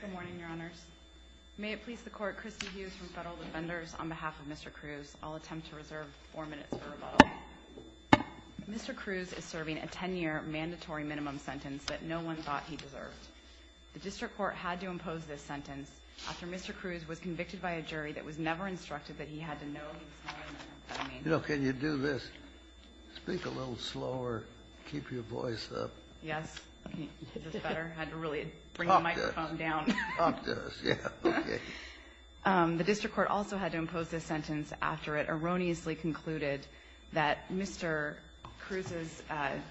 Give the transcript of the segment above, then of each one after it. Good morning, Your Honors. May it please the Court, Christy Hughes from Federal Defenders on behalf of Mr. Cruz, I'll attempt to reserve four minutes for rebuttal. Mr. Cruz is serving a 10-year mandatory minimum sentence that no one thought he deserved. The district court had to impose this sentence after Mr. Cruz was convicted by a jury that was never instructed that he had to know he was not a minor. You know, can you do this, speak a little slower, keep your voice up? Yes. Is this better? I had to really bring the microphone down. Talk to us. Yeah, okay. The district court also had to impose this sentence after it erroneously concluded that Mr. Cruz's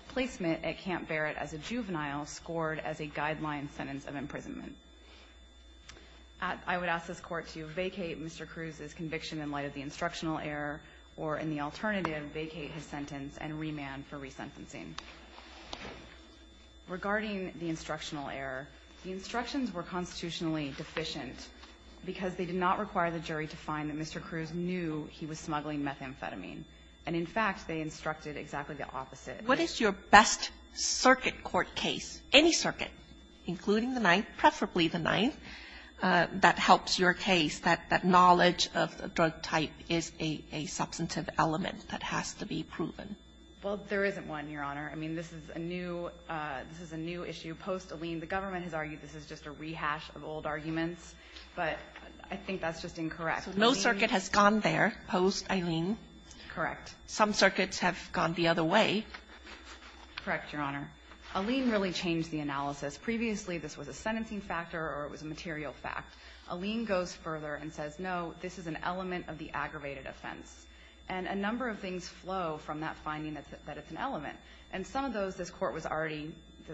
placement at Camp Barrett as a juvenile scored as a guideline sentence of imprisonment. I would ask this Court to vacate Mr. Cruz's conviction in light of the instructional error, or in the alternative, vacate his sentence and remand for resentencing. Regarding the instructional error, the instructions were constitutionally deficient because they did not require the jury to find that Mr. Cruz knew he was smuggling methamphetamine. And, in fact, they instructed exactly the opposite. What is your best circuit court case, any circuit, including the Ninth, preferably the Ninth, that helps your case, that knowledge of the drug type is a substantive element that has to be proven? Well, there isn't one, Your Honor. I mean, this is a new issue. Post-Aleen, the government has argued this is just a rehash of old arguments, but I think that's just incorrect. So no circuit has gone there post-Aleen? Correct. Some circuits have gone the other way. Correct, Your Honor. Aleen really changed the analysis. Previously, this was a sentencing factor or it was a material fact. Aleen goes further and says, no, this is an element of the aggravated offense. And a number of things flow from that finding that it's an element. And some of those this Court was already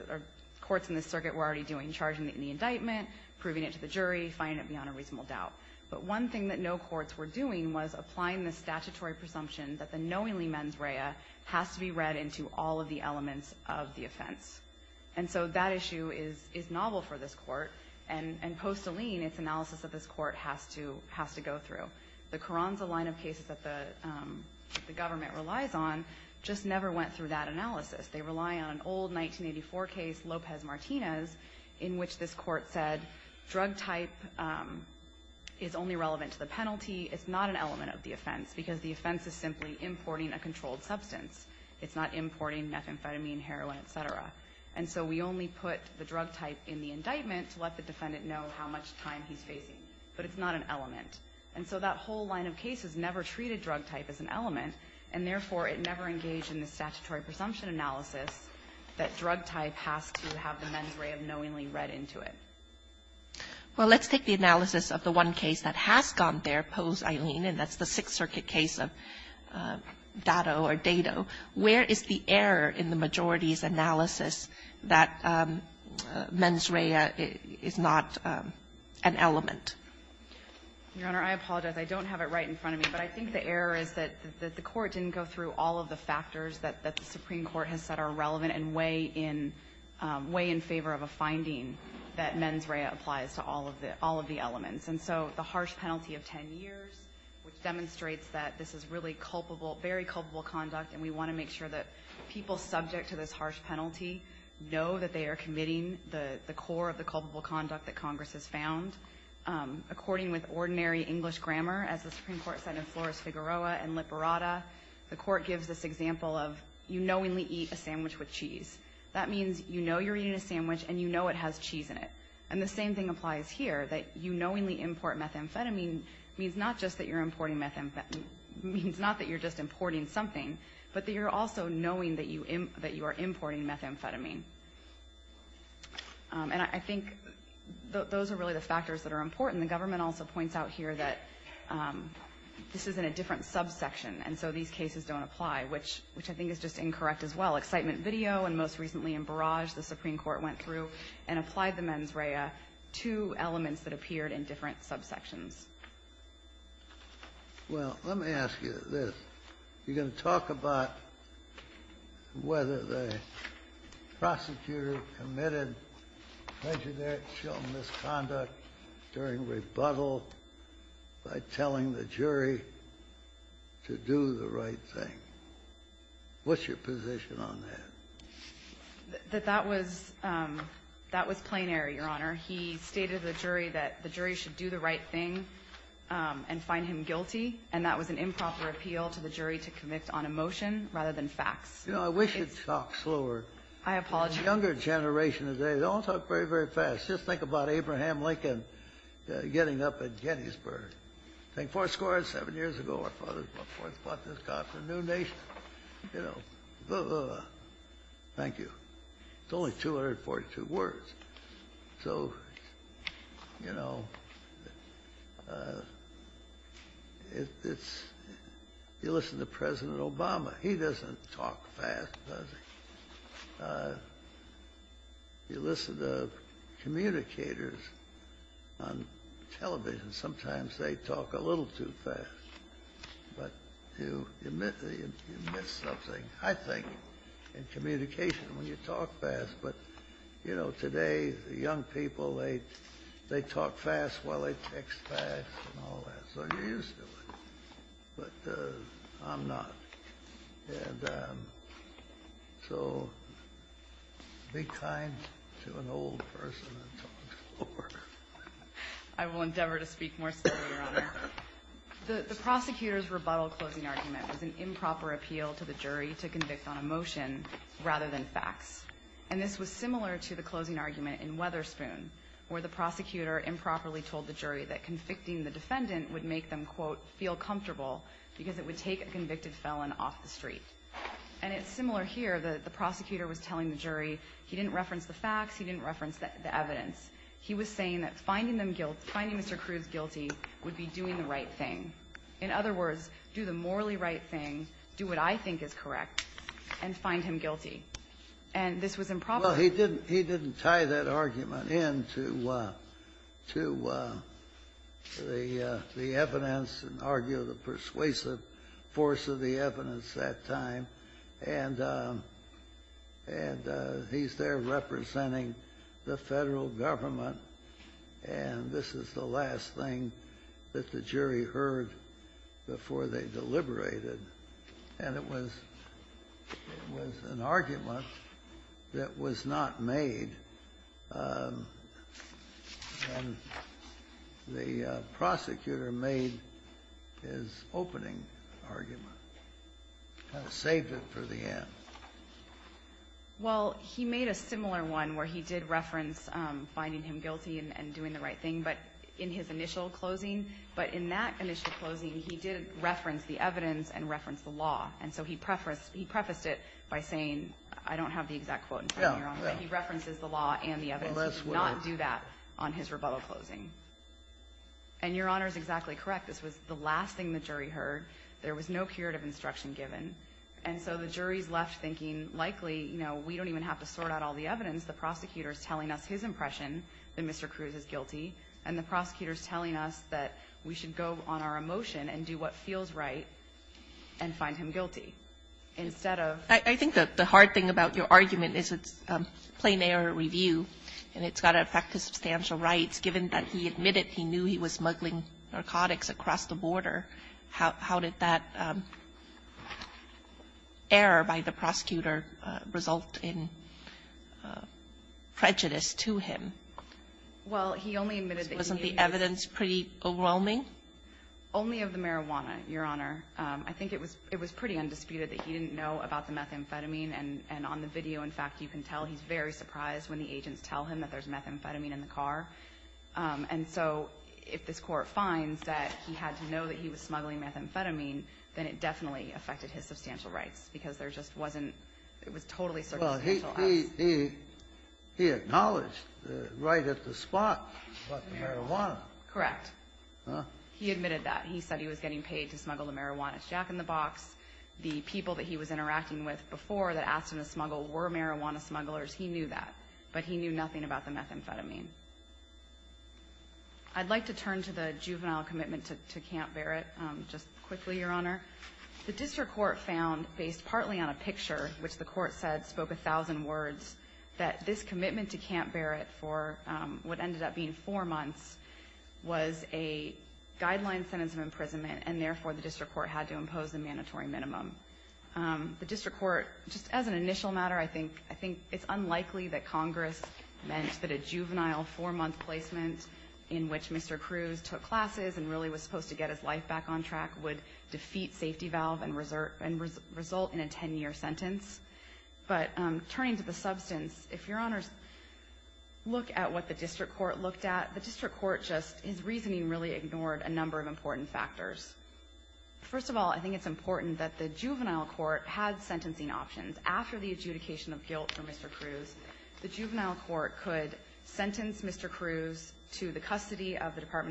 or courts in this circuit were already doing, charging the indictment, proving it to the jury, finding it beyond a reasonable doubt. But one thing that no courts were doing was applying the statutory presumption that the knowingly mens rea has to be read into all of the elements of the offense. And so that issue is novel for this Court. And post-Aleen, its analysis of this Court has to go through. The Carranza line of cases that the government relies on just never went through that analysis. They rely on an old 1984 case, Lopez-Martinez, in which this Court said, drug type is only relevant to the penalty. It's not an element of the offense because the offense is simply importing a controlled substance. It's not importing methamphetamine, heroin, et cetera. And so we only put the drug type in the indictment to let the defendant know how much time he's facing. But it's not an element. And so that whole line of cases never treated drug type as an element. And therefore, it never engaged in the statutory presumption analysis that drug type has to have the mens rea of knowingly read into it. Well, let's take the analysis of the one case that has gone there, post-Aleen, and that's the Sixth Circuit case of Dado or Dado. Where is the error in the majority's analysis that mens rea is not an element? Your Honor, I apologize. I don't have it right in front of me. But I think the error is that the Court didn't go through all of the factors that the Supreme Court has said are relevant and way in favor of a finding that mens rea applies to all of the elements. And so the harsh penalty of 10 years, which demonstrates that this is really culpable, very culpable conduct. And we want to make sure that people subject to this harsh penalty know that they are committing the core of the culpable conduct that Congress has found. According with ordinary English grammar, as the Supreme Court said in Flores Figueroa and Liparata, the Court gives this example of you knowingly eat a sandwich with cheese. That means you know you're eating a sandwich and you know it has cheese in it. And the same thing applies here, that you knowingly import methamphetamine means not just that you're importing methamphetamine, means not that you're just importing something, but that you're also knowing that you are importing methamphetamine. And I think those are really the factors that are important. The government also points out here that this is in a different subsection, and so these cases don't apply, which I think is just incorrect as well. Excitement video and most recently in Barrage, the Supreme Court went through and applied the mens rea to elements that appeared in different subsections. Well, let me ask you this. You're going to talk about whether the prosecutor committed legionnaire-kill misconduct during rebuttal by telling the jury to do the right thing. What's your position on that? That that was, that was plenary, Your Honor. He stated to the jury that the jury should do the right thing and find him guilty. And that was an improper appeal to the jury to convict on a motion rather than facts. You know, I wish you'd talk slower. I apologize. The younger generation today, they don't talk very, very fast. Just think about Abraham Lincoln getting up at Gettysburg. Think Foursquare. Seven years ago, our fathers bought this car for a new nation. You know, thank you. It's only 242 words. So, you know, it's you listen to President Obama. He doesn't talk fast, does he? You listen to communicators on television. Sometimes they talk a little too fast. But you admit something, I think, in communication when you talk fast. But, you know, today, the young people, they talk fast while they text fast and all that. So you're used to it. But I'm not. And so be kind to an old person and talk slower. I will endeavor to speak more slowly, Your Honor. The prosecutor's rebuttal closing argument was an improper appeal to the jury to convict on a motion rather than facts. And this was similar to the closing argument in Weatherspoon, where the prosecutor improperly told the jury that convicting the defendant would make them, quote, feel comfortable because it would take a convicted felon off the street. And it's similar here. The prosecutor was telling the jury he didn't reference the facts, he didn't reference the evidence. He was saying that finding them guilty, finding Mr. Cruz guilty would be doing the right thing. In other words, do the morally right thing, do what I think is correct, and find him guilty. And this was improper. Well, he didn't tie that argument in to the evidence and argue the persuasive force of the evidence that time. And he's there representing the federal government. And this is the last thing that the jury heard before they deliberated. And it was an argument that was not made. And the prosecutor made his opening argument, kind of saved it for the end. Well, he made a similar one where he did reference finding him guilty and doing the right thing, but in his initial closing, but in that initial closing, he didn't reference the evidence and reference the law. And so he prefaced it by saying, I don't have the exact quote in front of me, Your Honor, but he references the law and the evidence. He did not do that on his rebuttal closing. And Your Honor is exactly correct. This was the last thing the jury heard. There was no curative instruction given. And so the jury's left thinking, likely, you know, we don't even have to sort out all the evidence. The prosecutor's telling us his impression that Mr. Cruz is guilty. And the prosecutor's telling us that we should go on our emotion and do what feels right and find him guilty. Instead of ---- Kagan? I think that the hard thing about your argument is it's plane or review. And it's got to affect the substantial rights, given that he admitted he knew he was smuggling narcotics across the border. opening? prejudice to him. Well, he only admitted that he was ---- Wasn't the evidence pretty overwhelming? Only of the marijuana, Your Honor. I think it was pretty undisputed that he didn't know about the methamphetamine. And on the video, in fact, you can tell he's very surprised when the agents tell him that there's methamphetamine in the car. And so if this Court finds that he had to know that he was smuggling methamphetamine, then it definitely affected his substantial rights, because there just wasn't ---- it was totally circumstantial evidence. Well, he acknowledged right at the spot about the marijuana. Correct. He admitted that. He said he was getting paid to smuggle the marijuana. It's jack-in-the-box. The people that he was interacting with before that asked him to smuggle were marijuana smugglers. He knew that. But he knew nothing about the methamphetamine. I'd like to turn to the juvenile commitment to Camp Barrett just quickly, Your Honor. The district court found, based partly on a picture, which the Court said spoke a thousand words, that this commitment to Camp Barrett for what ended up being four months was a guideline sentence of imprisonment, and therefore the district court had to impose a mandatory minimum. The district court, just as an initial matter, I think it's unlikely that Congress meant that a juvenile four-month placement in which Mr. Cruz took classes and really was supposed to get his life back on track would defeat safety valve and result in a ten-year sentence. But turning to the substance, if Your Honors look at what the district court looked at, the district court just, his reasoning really ignored a number of important factors. First of all, I think it's important that the juvenile court had sentencing options. After the adjudication of guilt for Mr. Cruz, the juvenile court could sentence Mr. Cruz to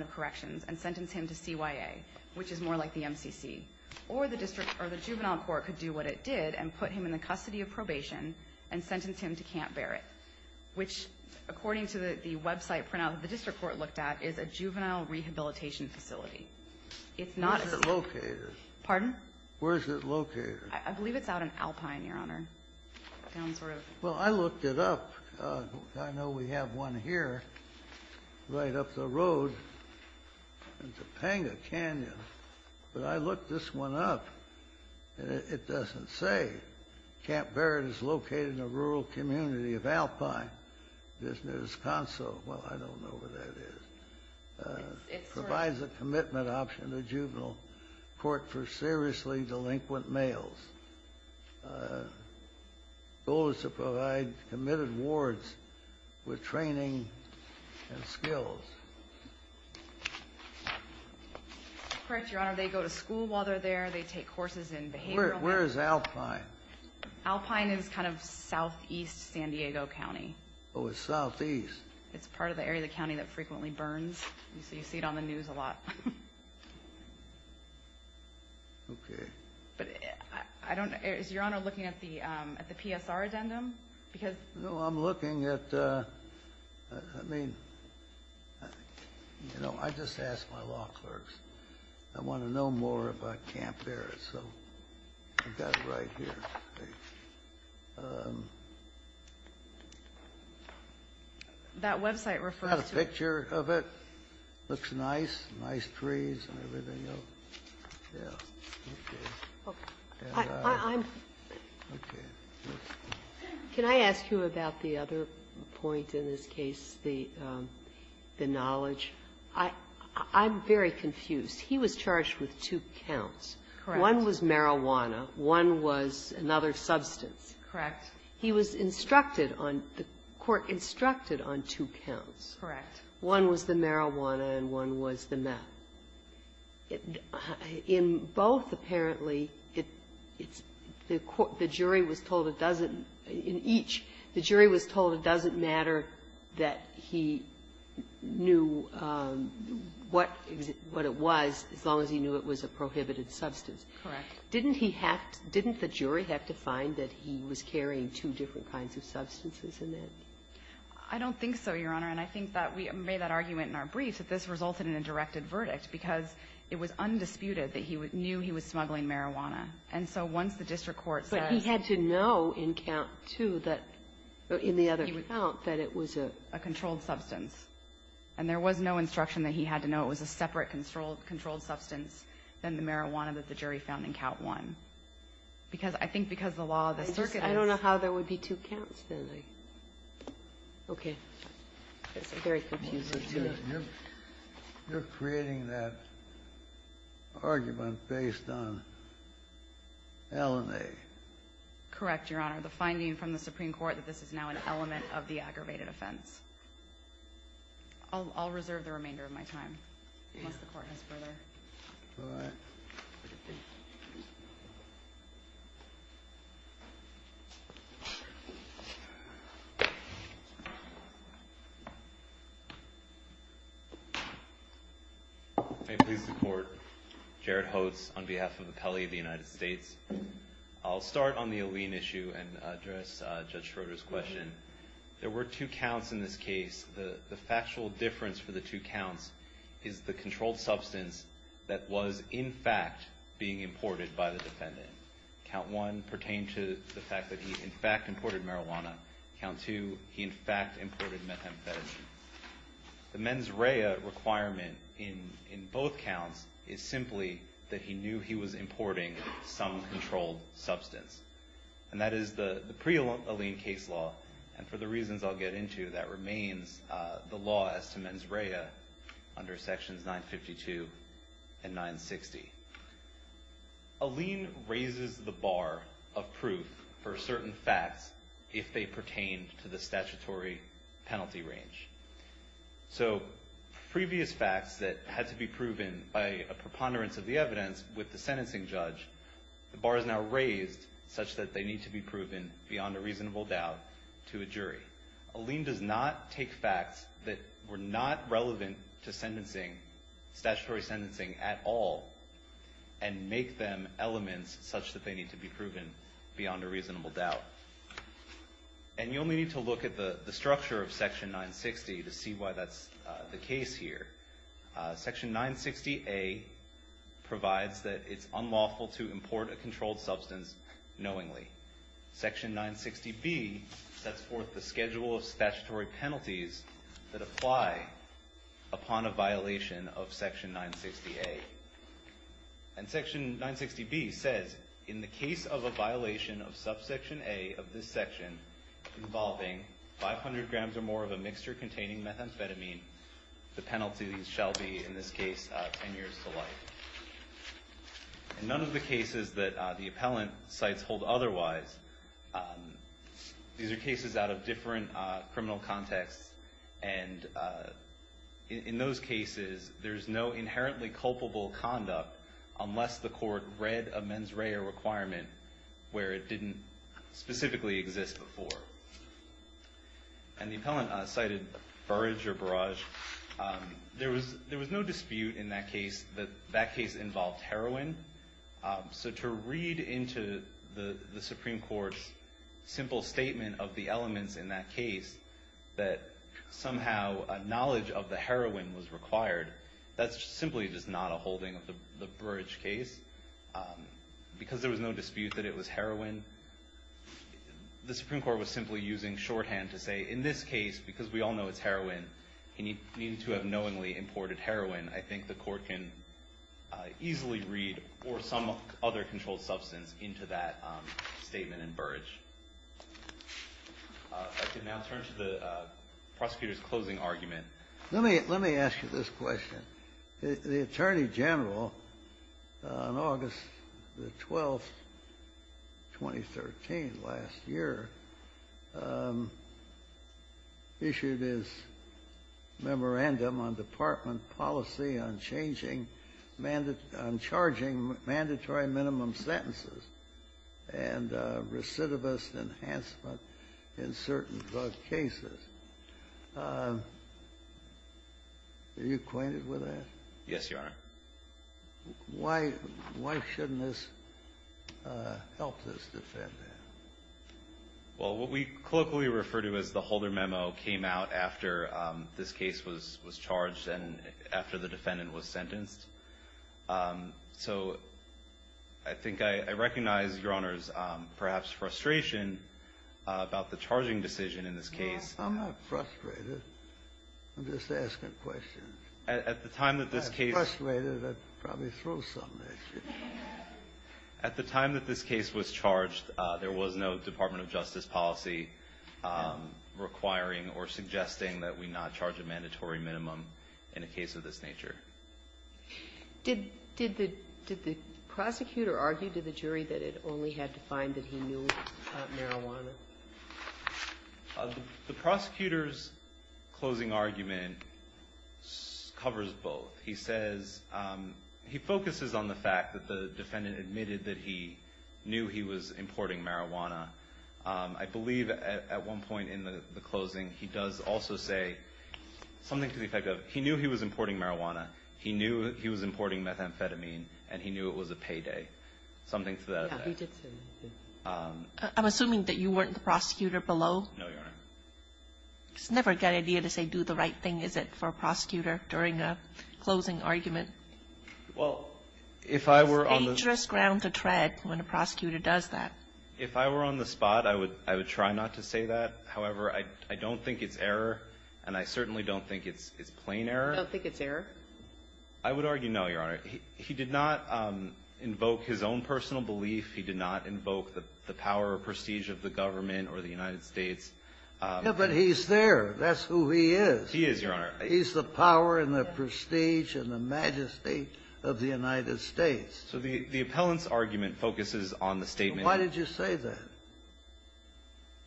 corrections and sentence him to CYA, which is more like the MCC. Or the district or the juvenile court could do what it did and put him in the custody of probation and sentence him to Camp Barrett, which, according to the website printout that the district court looked at, is a juvenile rehabilitation facility. It's not a safe --- Kennedy, where is it located? Pardon? Where is it located? I believe it's out in Alpine, Your Honor, down sort of --- Well, I looked it up. I know we have one here right up the road in Topanga Canyon. But I looked this one up, and it doesn't say. Camp Barrett is located in a rural community of Alpine, just near Wisconsin. Well, I don't know where that is. It provides a commitment option to juvenile court for seriously delinquent males. It also provides committed wards with training and skills. That's correct, Your Honor. They go to school while they're there. They take courses in behavioral medicine. Where is Alpine? Alpine is kind of southeast San Diego County. Oh, it's southeast. It's part of the area of the county that frequently burns. So you see it on the news a lot. Okay. But I don't know. Is Your Honor looking at the PSR addendum? Because --- No, I'm looking at the -- I mean, you know, I just asked my law clerks. I want to know more about Camp Barrett. So I've got it right here. That website refers to it. I've got a picture of it. It looks nice. Nice trees and everything else. Yes. And I'm --- Okay. Can I ask you about the other point in this case, the knowledge? I'm very confused. He was charged with two counts. Correct. One was marijuana. One was another substance. Correct. He was instructed on the court instructed on two counts. Correct. One was the marijuana, and one was the meth. In both, apparently, it's the jury was told it doesn't --- in each, the jury was told it doesn't matter that he knew what it was as long as he knew it was a prohibited substance. Correct. Didn't he have to -- didn't the jury have to find that he was carrying two different kinds of substances in that? I don't think so, Your Honor. And I think that we made that argument in our briefs that this resulted in a directed verdict because it was undisputed that he knew he was smuggling marijuana. And so once the district court says --- But he had to know in count two that in the other count that it was a --- A controlled substance. And there was no instruction that he had to know it was a separate controlled substance than the marijuana that the jury found in count one. Because I think because the law of the circuit --- I don't know how there would be two counts, really. Okay. It's very confusing to me. You're creating that argument based on LNA. Correct, Your Honor. The finding from the Supreme Court that this is now an element of the aggravated offense. I'll reserve the remainder of my time, unless the Court has further. All right. Thank you. May it please the Court, Jared Hotz on behalf of the Appellee of the United States. I'll start on the Allene issue and address Judge Schroeder's question. There were two counts in this case. The factual difference for the two counts is the controlled substance that was, in fact, being imported by the defendant. Count one pertained to the fact that he, in fact, imported marijuana. Count two, he, in fact, imported methamphetamine. The mens rea requirement in both counts is simply that he knew he was importing some controlled substance. And that is the pre-Allene case law. And for the reasons I'll get into, that remains the law as to mens rea under sections 952 and 960. Allene raises the bar of proof for certain facts if they pertain to the statutory penalty range. So previous facts that had to be proven by a preponderance of the evidence with the sentencing judge, the bar is now raised such that they need to be proven beyond a reasonable doubt to a jury. Allene does not take facts that were not relevant to sentencing, statutory sentencing at all, and make them elements such that they need to be proven beyond a reasonable doubt. And you'll need to look at the structure of section 960 to see why that's the case here. Section 960A provides that it's unlawful to import a controlled substance knowingly. Section 960B sets forth the schedule of statutory penalties that apply upon a violation of section 960A. And section 960B says, in the case of a violation of subsection A of this section involving 500 grams or more of a mixture containing methamphetamine, the penalty shall be, in this case, 10 years to life. In none of the cases that the appellant cites hold otherwise, these are cases out of different criminal contexts. And in those cases, there's no inherently culpable conduct unless the court read a mens rea requirement where it didn't specifically exist before. And the appellant cited Burrage or Barrage. There was no dispute in that case that that case involved heroin. So to read into the Supreme Court's simple statement of the elements in that case that somehow a knowledge of the heroin was required, that's simply just not a holding of the Burrage case. Because there was no dispute that it was heroin, the Supreme Court was simply using shorthand to say, in this case, because we all know it's heroin, you need to have knowingly imported heroin. I think the court can easily read or some other controlled substance into that statement in Burrage. I can now turn to the prosecutor's closing argument. Let me ask you this question. The Attorney General, on August the 12th, 2013, last year, said that he was not sure that he had issued his memorandum on department policy on changing mandatory minimum sentences and recidivist enhancement in certain drug cases. Are you acquainted with that? Yes, Your Honor. Why shouldn't this help us defend that? Well, what we colloquially refer to as the Holder memo came out after this case was charged and after the defendant was sentenced. So I think I recognize, Your Honors, perhaps frustration about the charging decision in this case. No, I'm not frustrated. I'm just asking questions. At the time that this case was charged, there was a charge that the defendant was not charged with mandatory minimum in a case of this nature. Did the prosecutor argue to the jury that it only had to find that he knew about marijuana? The prosecutor's closing argument covers both. He says, he focuses on the fact that the defendant admitted that he knew he was importing marijuana. I believe at one point in the closing, he does also say something to the effect of he knew he was importing marijuana, he knew he was importing methamphetamine, and he knew it was a payday, something to that effect. I'm assuming that you weren't the prosecutor below? No, Your Honor. It's never a good idea to say, do the right thing, is it, for a prosecutor during a closing argument. Well, if I were on the spot. It's dangerous ground to tread when a prosecutor does that. If I were on the spot, I would try not to say that. However, I don't think it's error, and I certainly don't think it's plain error. You don't think it's error? I would argue no, Your Honor. He did not invoke his own personal belief. He did not invoke the power or prestige of the government or the United States. Yeah, but he's there. That's who he is. He is, Your Honor. He's the power and the prestige and the majesty of the United States. So the appellant's argument focuses on the statement. Why did you say that?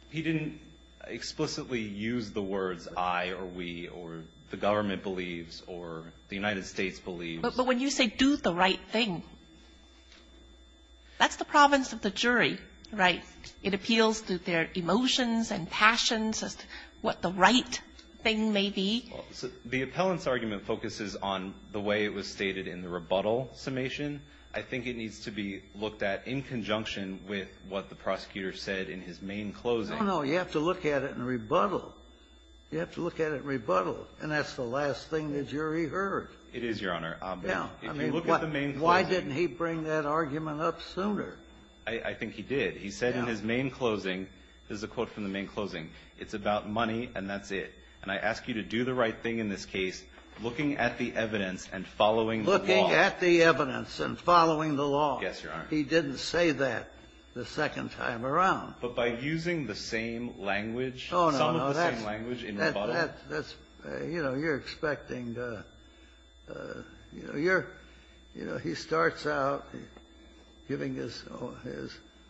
He didn't explicitly use the words I or we or the government believes or the United States believes. But when you say do the right thing, that's the province of the jury, right? It appeals to their emotions and passions as to what the right thing may be. The appellant's argument focuses on the way it was stated in the rebuttal summation. I think it needs to be looked at in conjunction with what the prosecutor said in his main closing. No, no. You have to look at it in rebuttal. You have to look at it in rebuttal. And that's the last thing the jury heard. It is, Your Honor. Now, I mean, why didn't he bring that argument up sooner? I think he did. He said in his main closing, this is a quote from the main closing, it's about money and that's it. And I ask you to do the right thing in this case, looking at the evidence and following the law. Looking at the evidence and following the law. Yes, Your Honor. He didn't say that the second time around. But by using the same language, some of the same language in rebuttal. That's, you know, you're expecting to, you know, you're, you know, he starts out giving his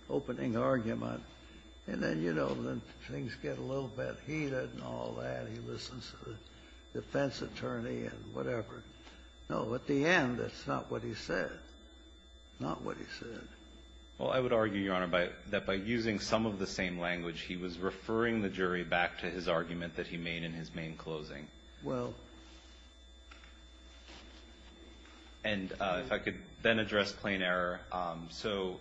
opening argument. And then, you know, things get a little bit heated and all that. He listens to the defense attorney and whatever. No, at the end, that's not what he said. Not what he said. Well, I would argue, Your Honor, that by using some of the same language, he was referring the jury back to his argument that he made in his main closing. Well. And if I could then address plain error. So,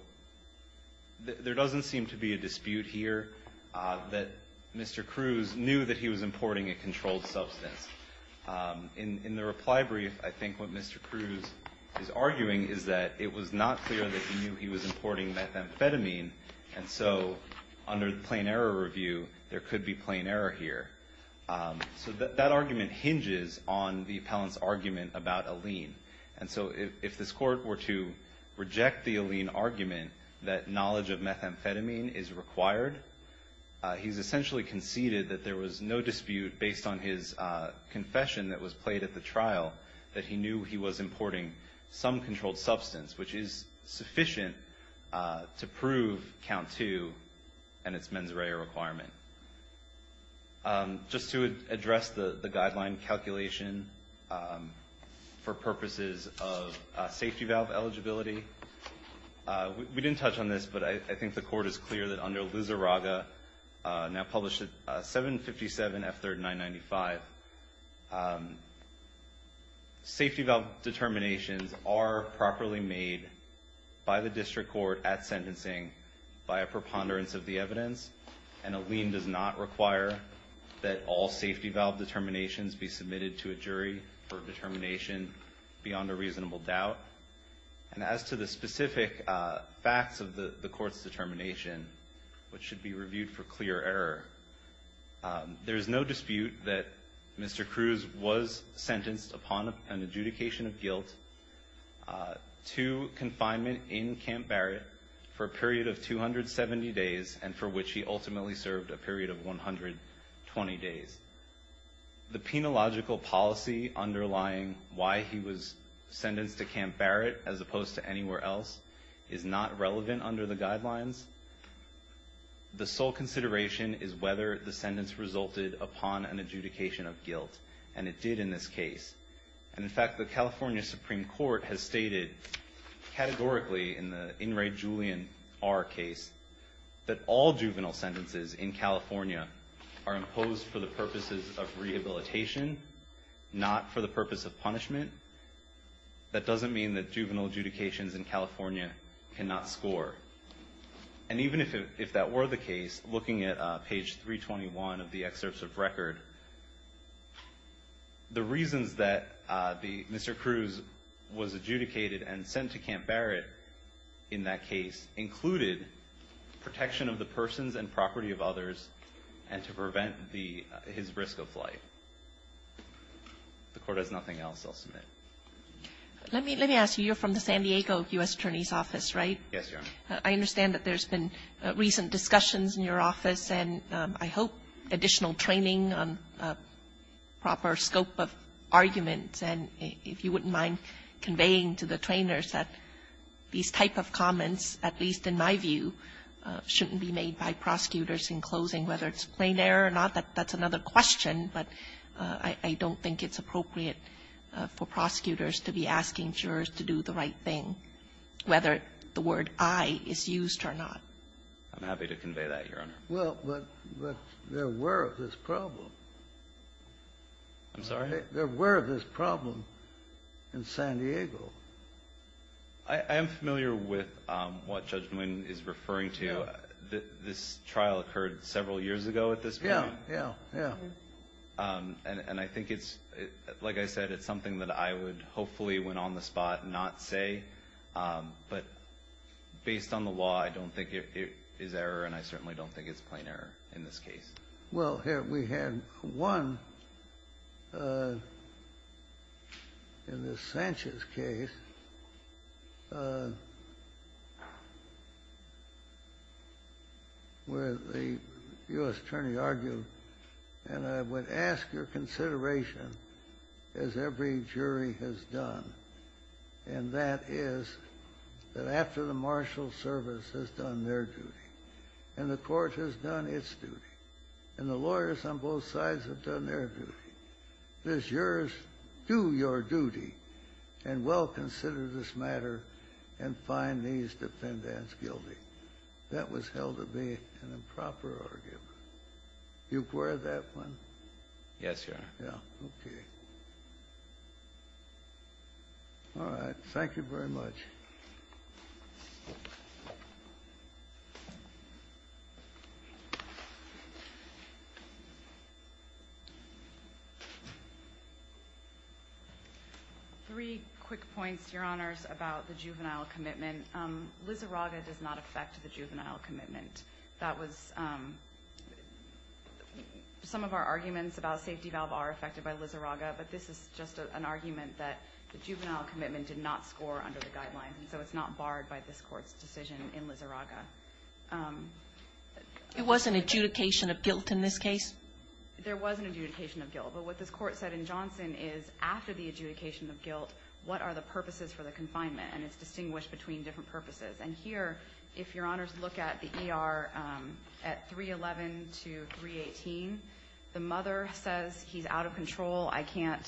there doesn't seem to be a dispute here that Mr. Cruz knew that he was importing a controlled substance. In the reply brief, I think what Mr. Cruz is arguing is that it was not clear that he knew he was importing methamphetamine. And so, under the plain error review, there could be plain error here. So, that argument hinges on the appellant's argument about a lien. And so, if this court were to reject the lien argument that knowledge of methamphetamine is required, he's essentially conceded that there was no dispute based on his confession that was played at the trial that he knew he was importing some controlled substance, which is sufficient to prove count two and its mens rea requirement. Just to address the guideline calculation for purposes of safety valve eligibility, we didn't touch on this, but I think the court is clear that under Loos-A-Raga, now published at 757 F3995, safety valve determinations are properly made by the district court at sentencing by a preponderance of the evidence, and a lien does not require that all safety valve determinations be submitted to a jury for determination beyond a reasonable doubt. And as to the specific facts of the court's determination, which should be reviewed for clear error, there is no dispute that Mr. Cruz was sentenced upon an adjudication of guilt to confinement in Camp Barrett for a period of 270 days, and for which he ultimately served a period of 120 days. The penological policy underlying why he was sentenced to Camp Barrett as opposed to anywhere else is not relevant under the guidelines. The sole consideration is whether the sentence resulted upon an adjudication of guilt, and it did in this case. And in fact, the California Supreme Court has stated categorically in the In re Julian R. case that all juvenile sentences in California are imposed for the purposes of rehabilitation, not for the purpose of punishment. That doesn't mean that juvenile adjudications in California cannot score. And even if that were the case, looking at page 321 of the excerpts of record, the reasons that Mr. Cruz was adjudicated and sent to Camp Barrett in that case included protection of the persons and property of others, and to prevent his risk of flight. If the Court has nothing else, I'll submit. Let me ask you, you're from the San Diego U.S. Attorney's Office, right? Yes, Your Honor. I understand that there's been recent discussions in your office, and I hope additional training on proper scope of arguments, and if you wouldn't mind conveying to the trainers that these type of comments, at least in my view, shouldn't be made by prosecutors in closing, whether it's plain error or not. That's another question, but I don't think it's appropriate for prosecutors to be asking jurors to do the right thing, whether the word I is used or not. I'm happy to convey that, Your Honor. Well, but there were this problem. I'm sorry? There were this problem in San Diego. I am familiar with what Judge Nguyen is referring to. This trial occurred several years ago at this point. Yeah, yeah, yeah. And I think it's, like I said, it's something that I would hopefully, when on the spot, not say, but based on the law, I don't think it is error, and I certainly don't think it's plain error in this case. Well, here, we had one in the Sanchez case where the U.S. attorney argued, and I would ask your consideration, as every jury has done, and that is that after the marshal service has done their duty and the court has done its duty and the lawyers on both sides have done their duty, the jurors do your duty and well consider this matter and find these defendants guilty. That was held to be an improper argument. Do you acquire that one? Yes, Your Honor. Yeah, okay. All right. Thank you very much. Three quick points, Your Honors, about the juvenile commitment. Liz Araga does not affect the juvenile commitment. That was, some of our arguments about safety valve are affected by Liz Araga, but this is just an argument that the juvenile commitment did not score under the guidelines, and so it's not barred by this Court's decision in Liz Araga. It wasn't adjudication of guilt in this case? There was an adjudication of guilt, but what this Court said in Johnson is after the adjudication of guilt, what are the purposes for the confinement, and it's distinguished between different purposes. And here, if Your Honors look at the ER at 311 to 318, the mother says he's out of control, I can't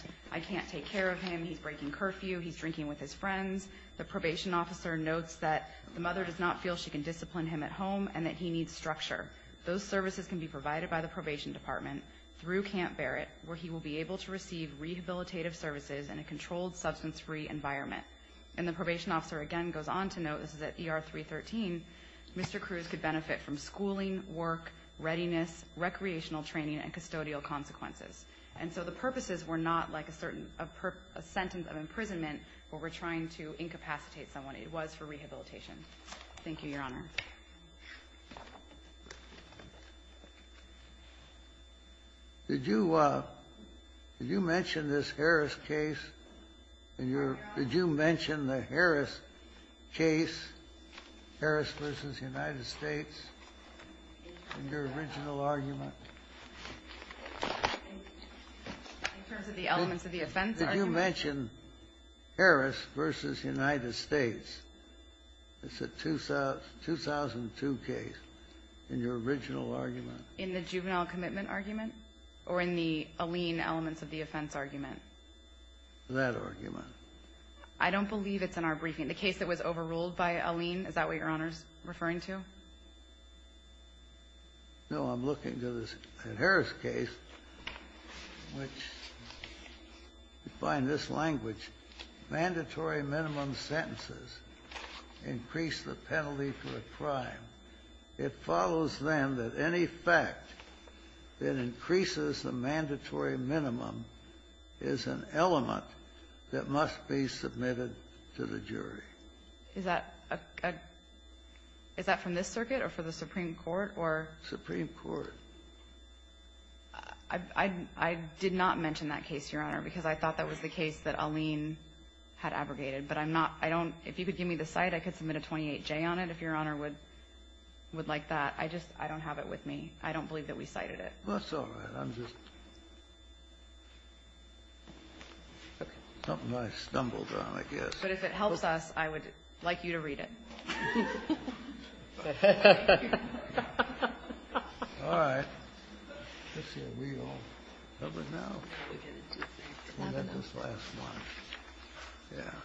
take care of him, he's breaking curfew, he's drinking with his friends. The probation officer notes that the mother does not feel she can discipline him at home and that he needs structure. Those services can be provided by the probation department through Camp Barrett where he will be able to receive rehabilitative services in a controlled, substance-free environment. And the probation officer again goes on to note, this is at ER 313, Mr. Cruz could benefit from schooling, work, readiness, recreational training, and custodial consequences. And so the purposes were not like a certain sentence of imprisonment where we're trying to incapacitate someone. It was for rehabilitation. Thank you, Your Honor. Did you mention this Harris case? Harris v. United States in your original argument? In terms of the elements of the offense argument? Did you mention Harris v. United States? It's a 2002 case in your original argument. In the juvenile commitment argument? Or in the Alleen elements of the offense argument? That argument. I don't believe it's in our briefing. The case that was overruled by Alleen, is that what Your Honor is referring to? No. I'm looking to the Harris case which defined this language, mandatory minimum sentences increase the penalty for a crime. It follows, then, that any fact that increases the mandatory minimum is an element that must be submitted to the jury. Is that from this circuit or for the Supreme Court? Supreme Court. I did not mention that case, Your Honor, because I thought that was the case that Alleen had abrogated. But I'm not – I don't – if you could give me the site, I could submit a 28-J on it if Your Honor would like that. I just – I don't have it with me. I don't believe that we cited it. Well, that's all right. I'm just – something I stumbled on, I guess. But if it helps us, I would like you to read it. All right. Let's see. Are we all covered now? We'll let this last one. Yeah.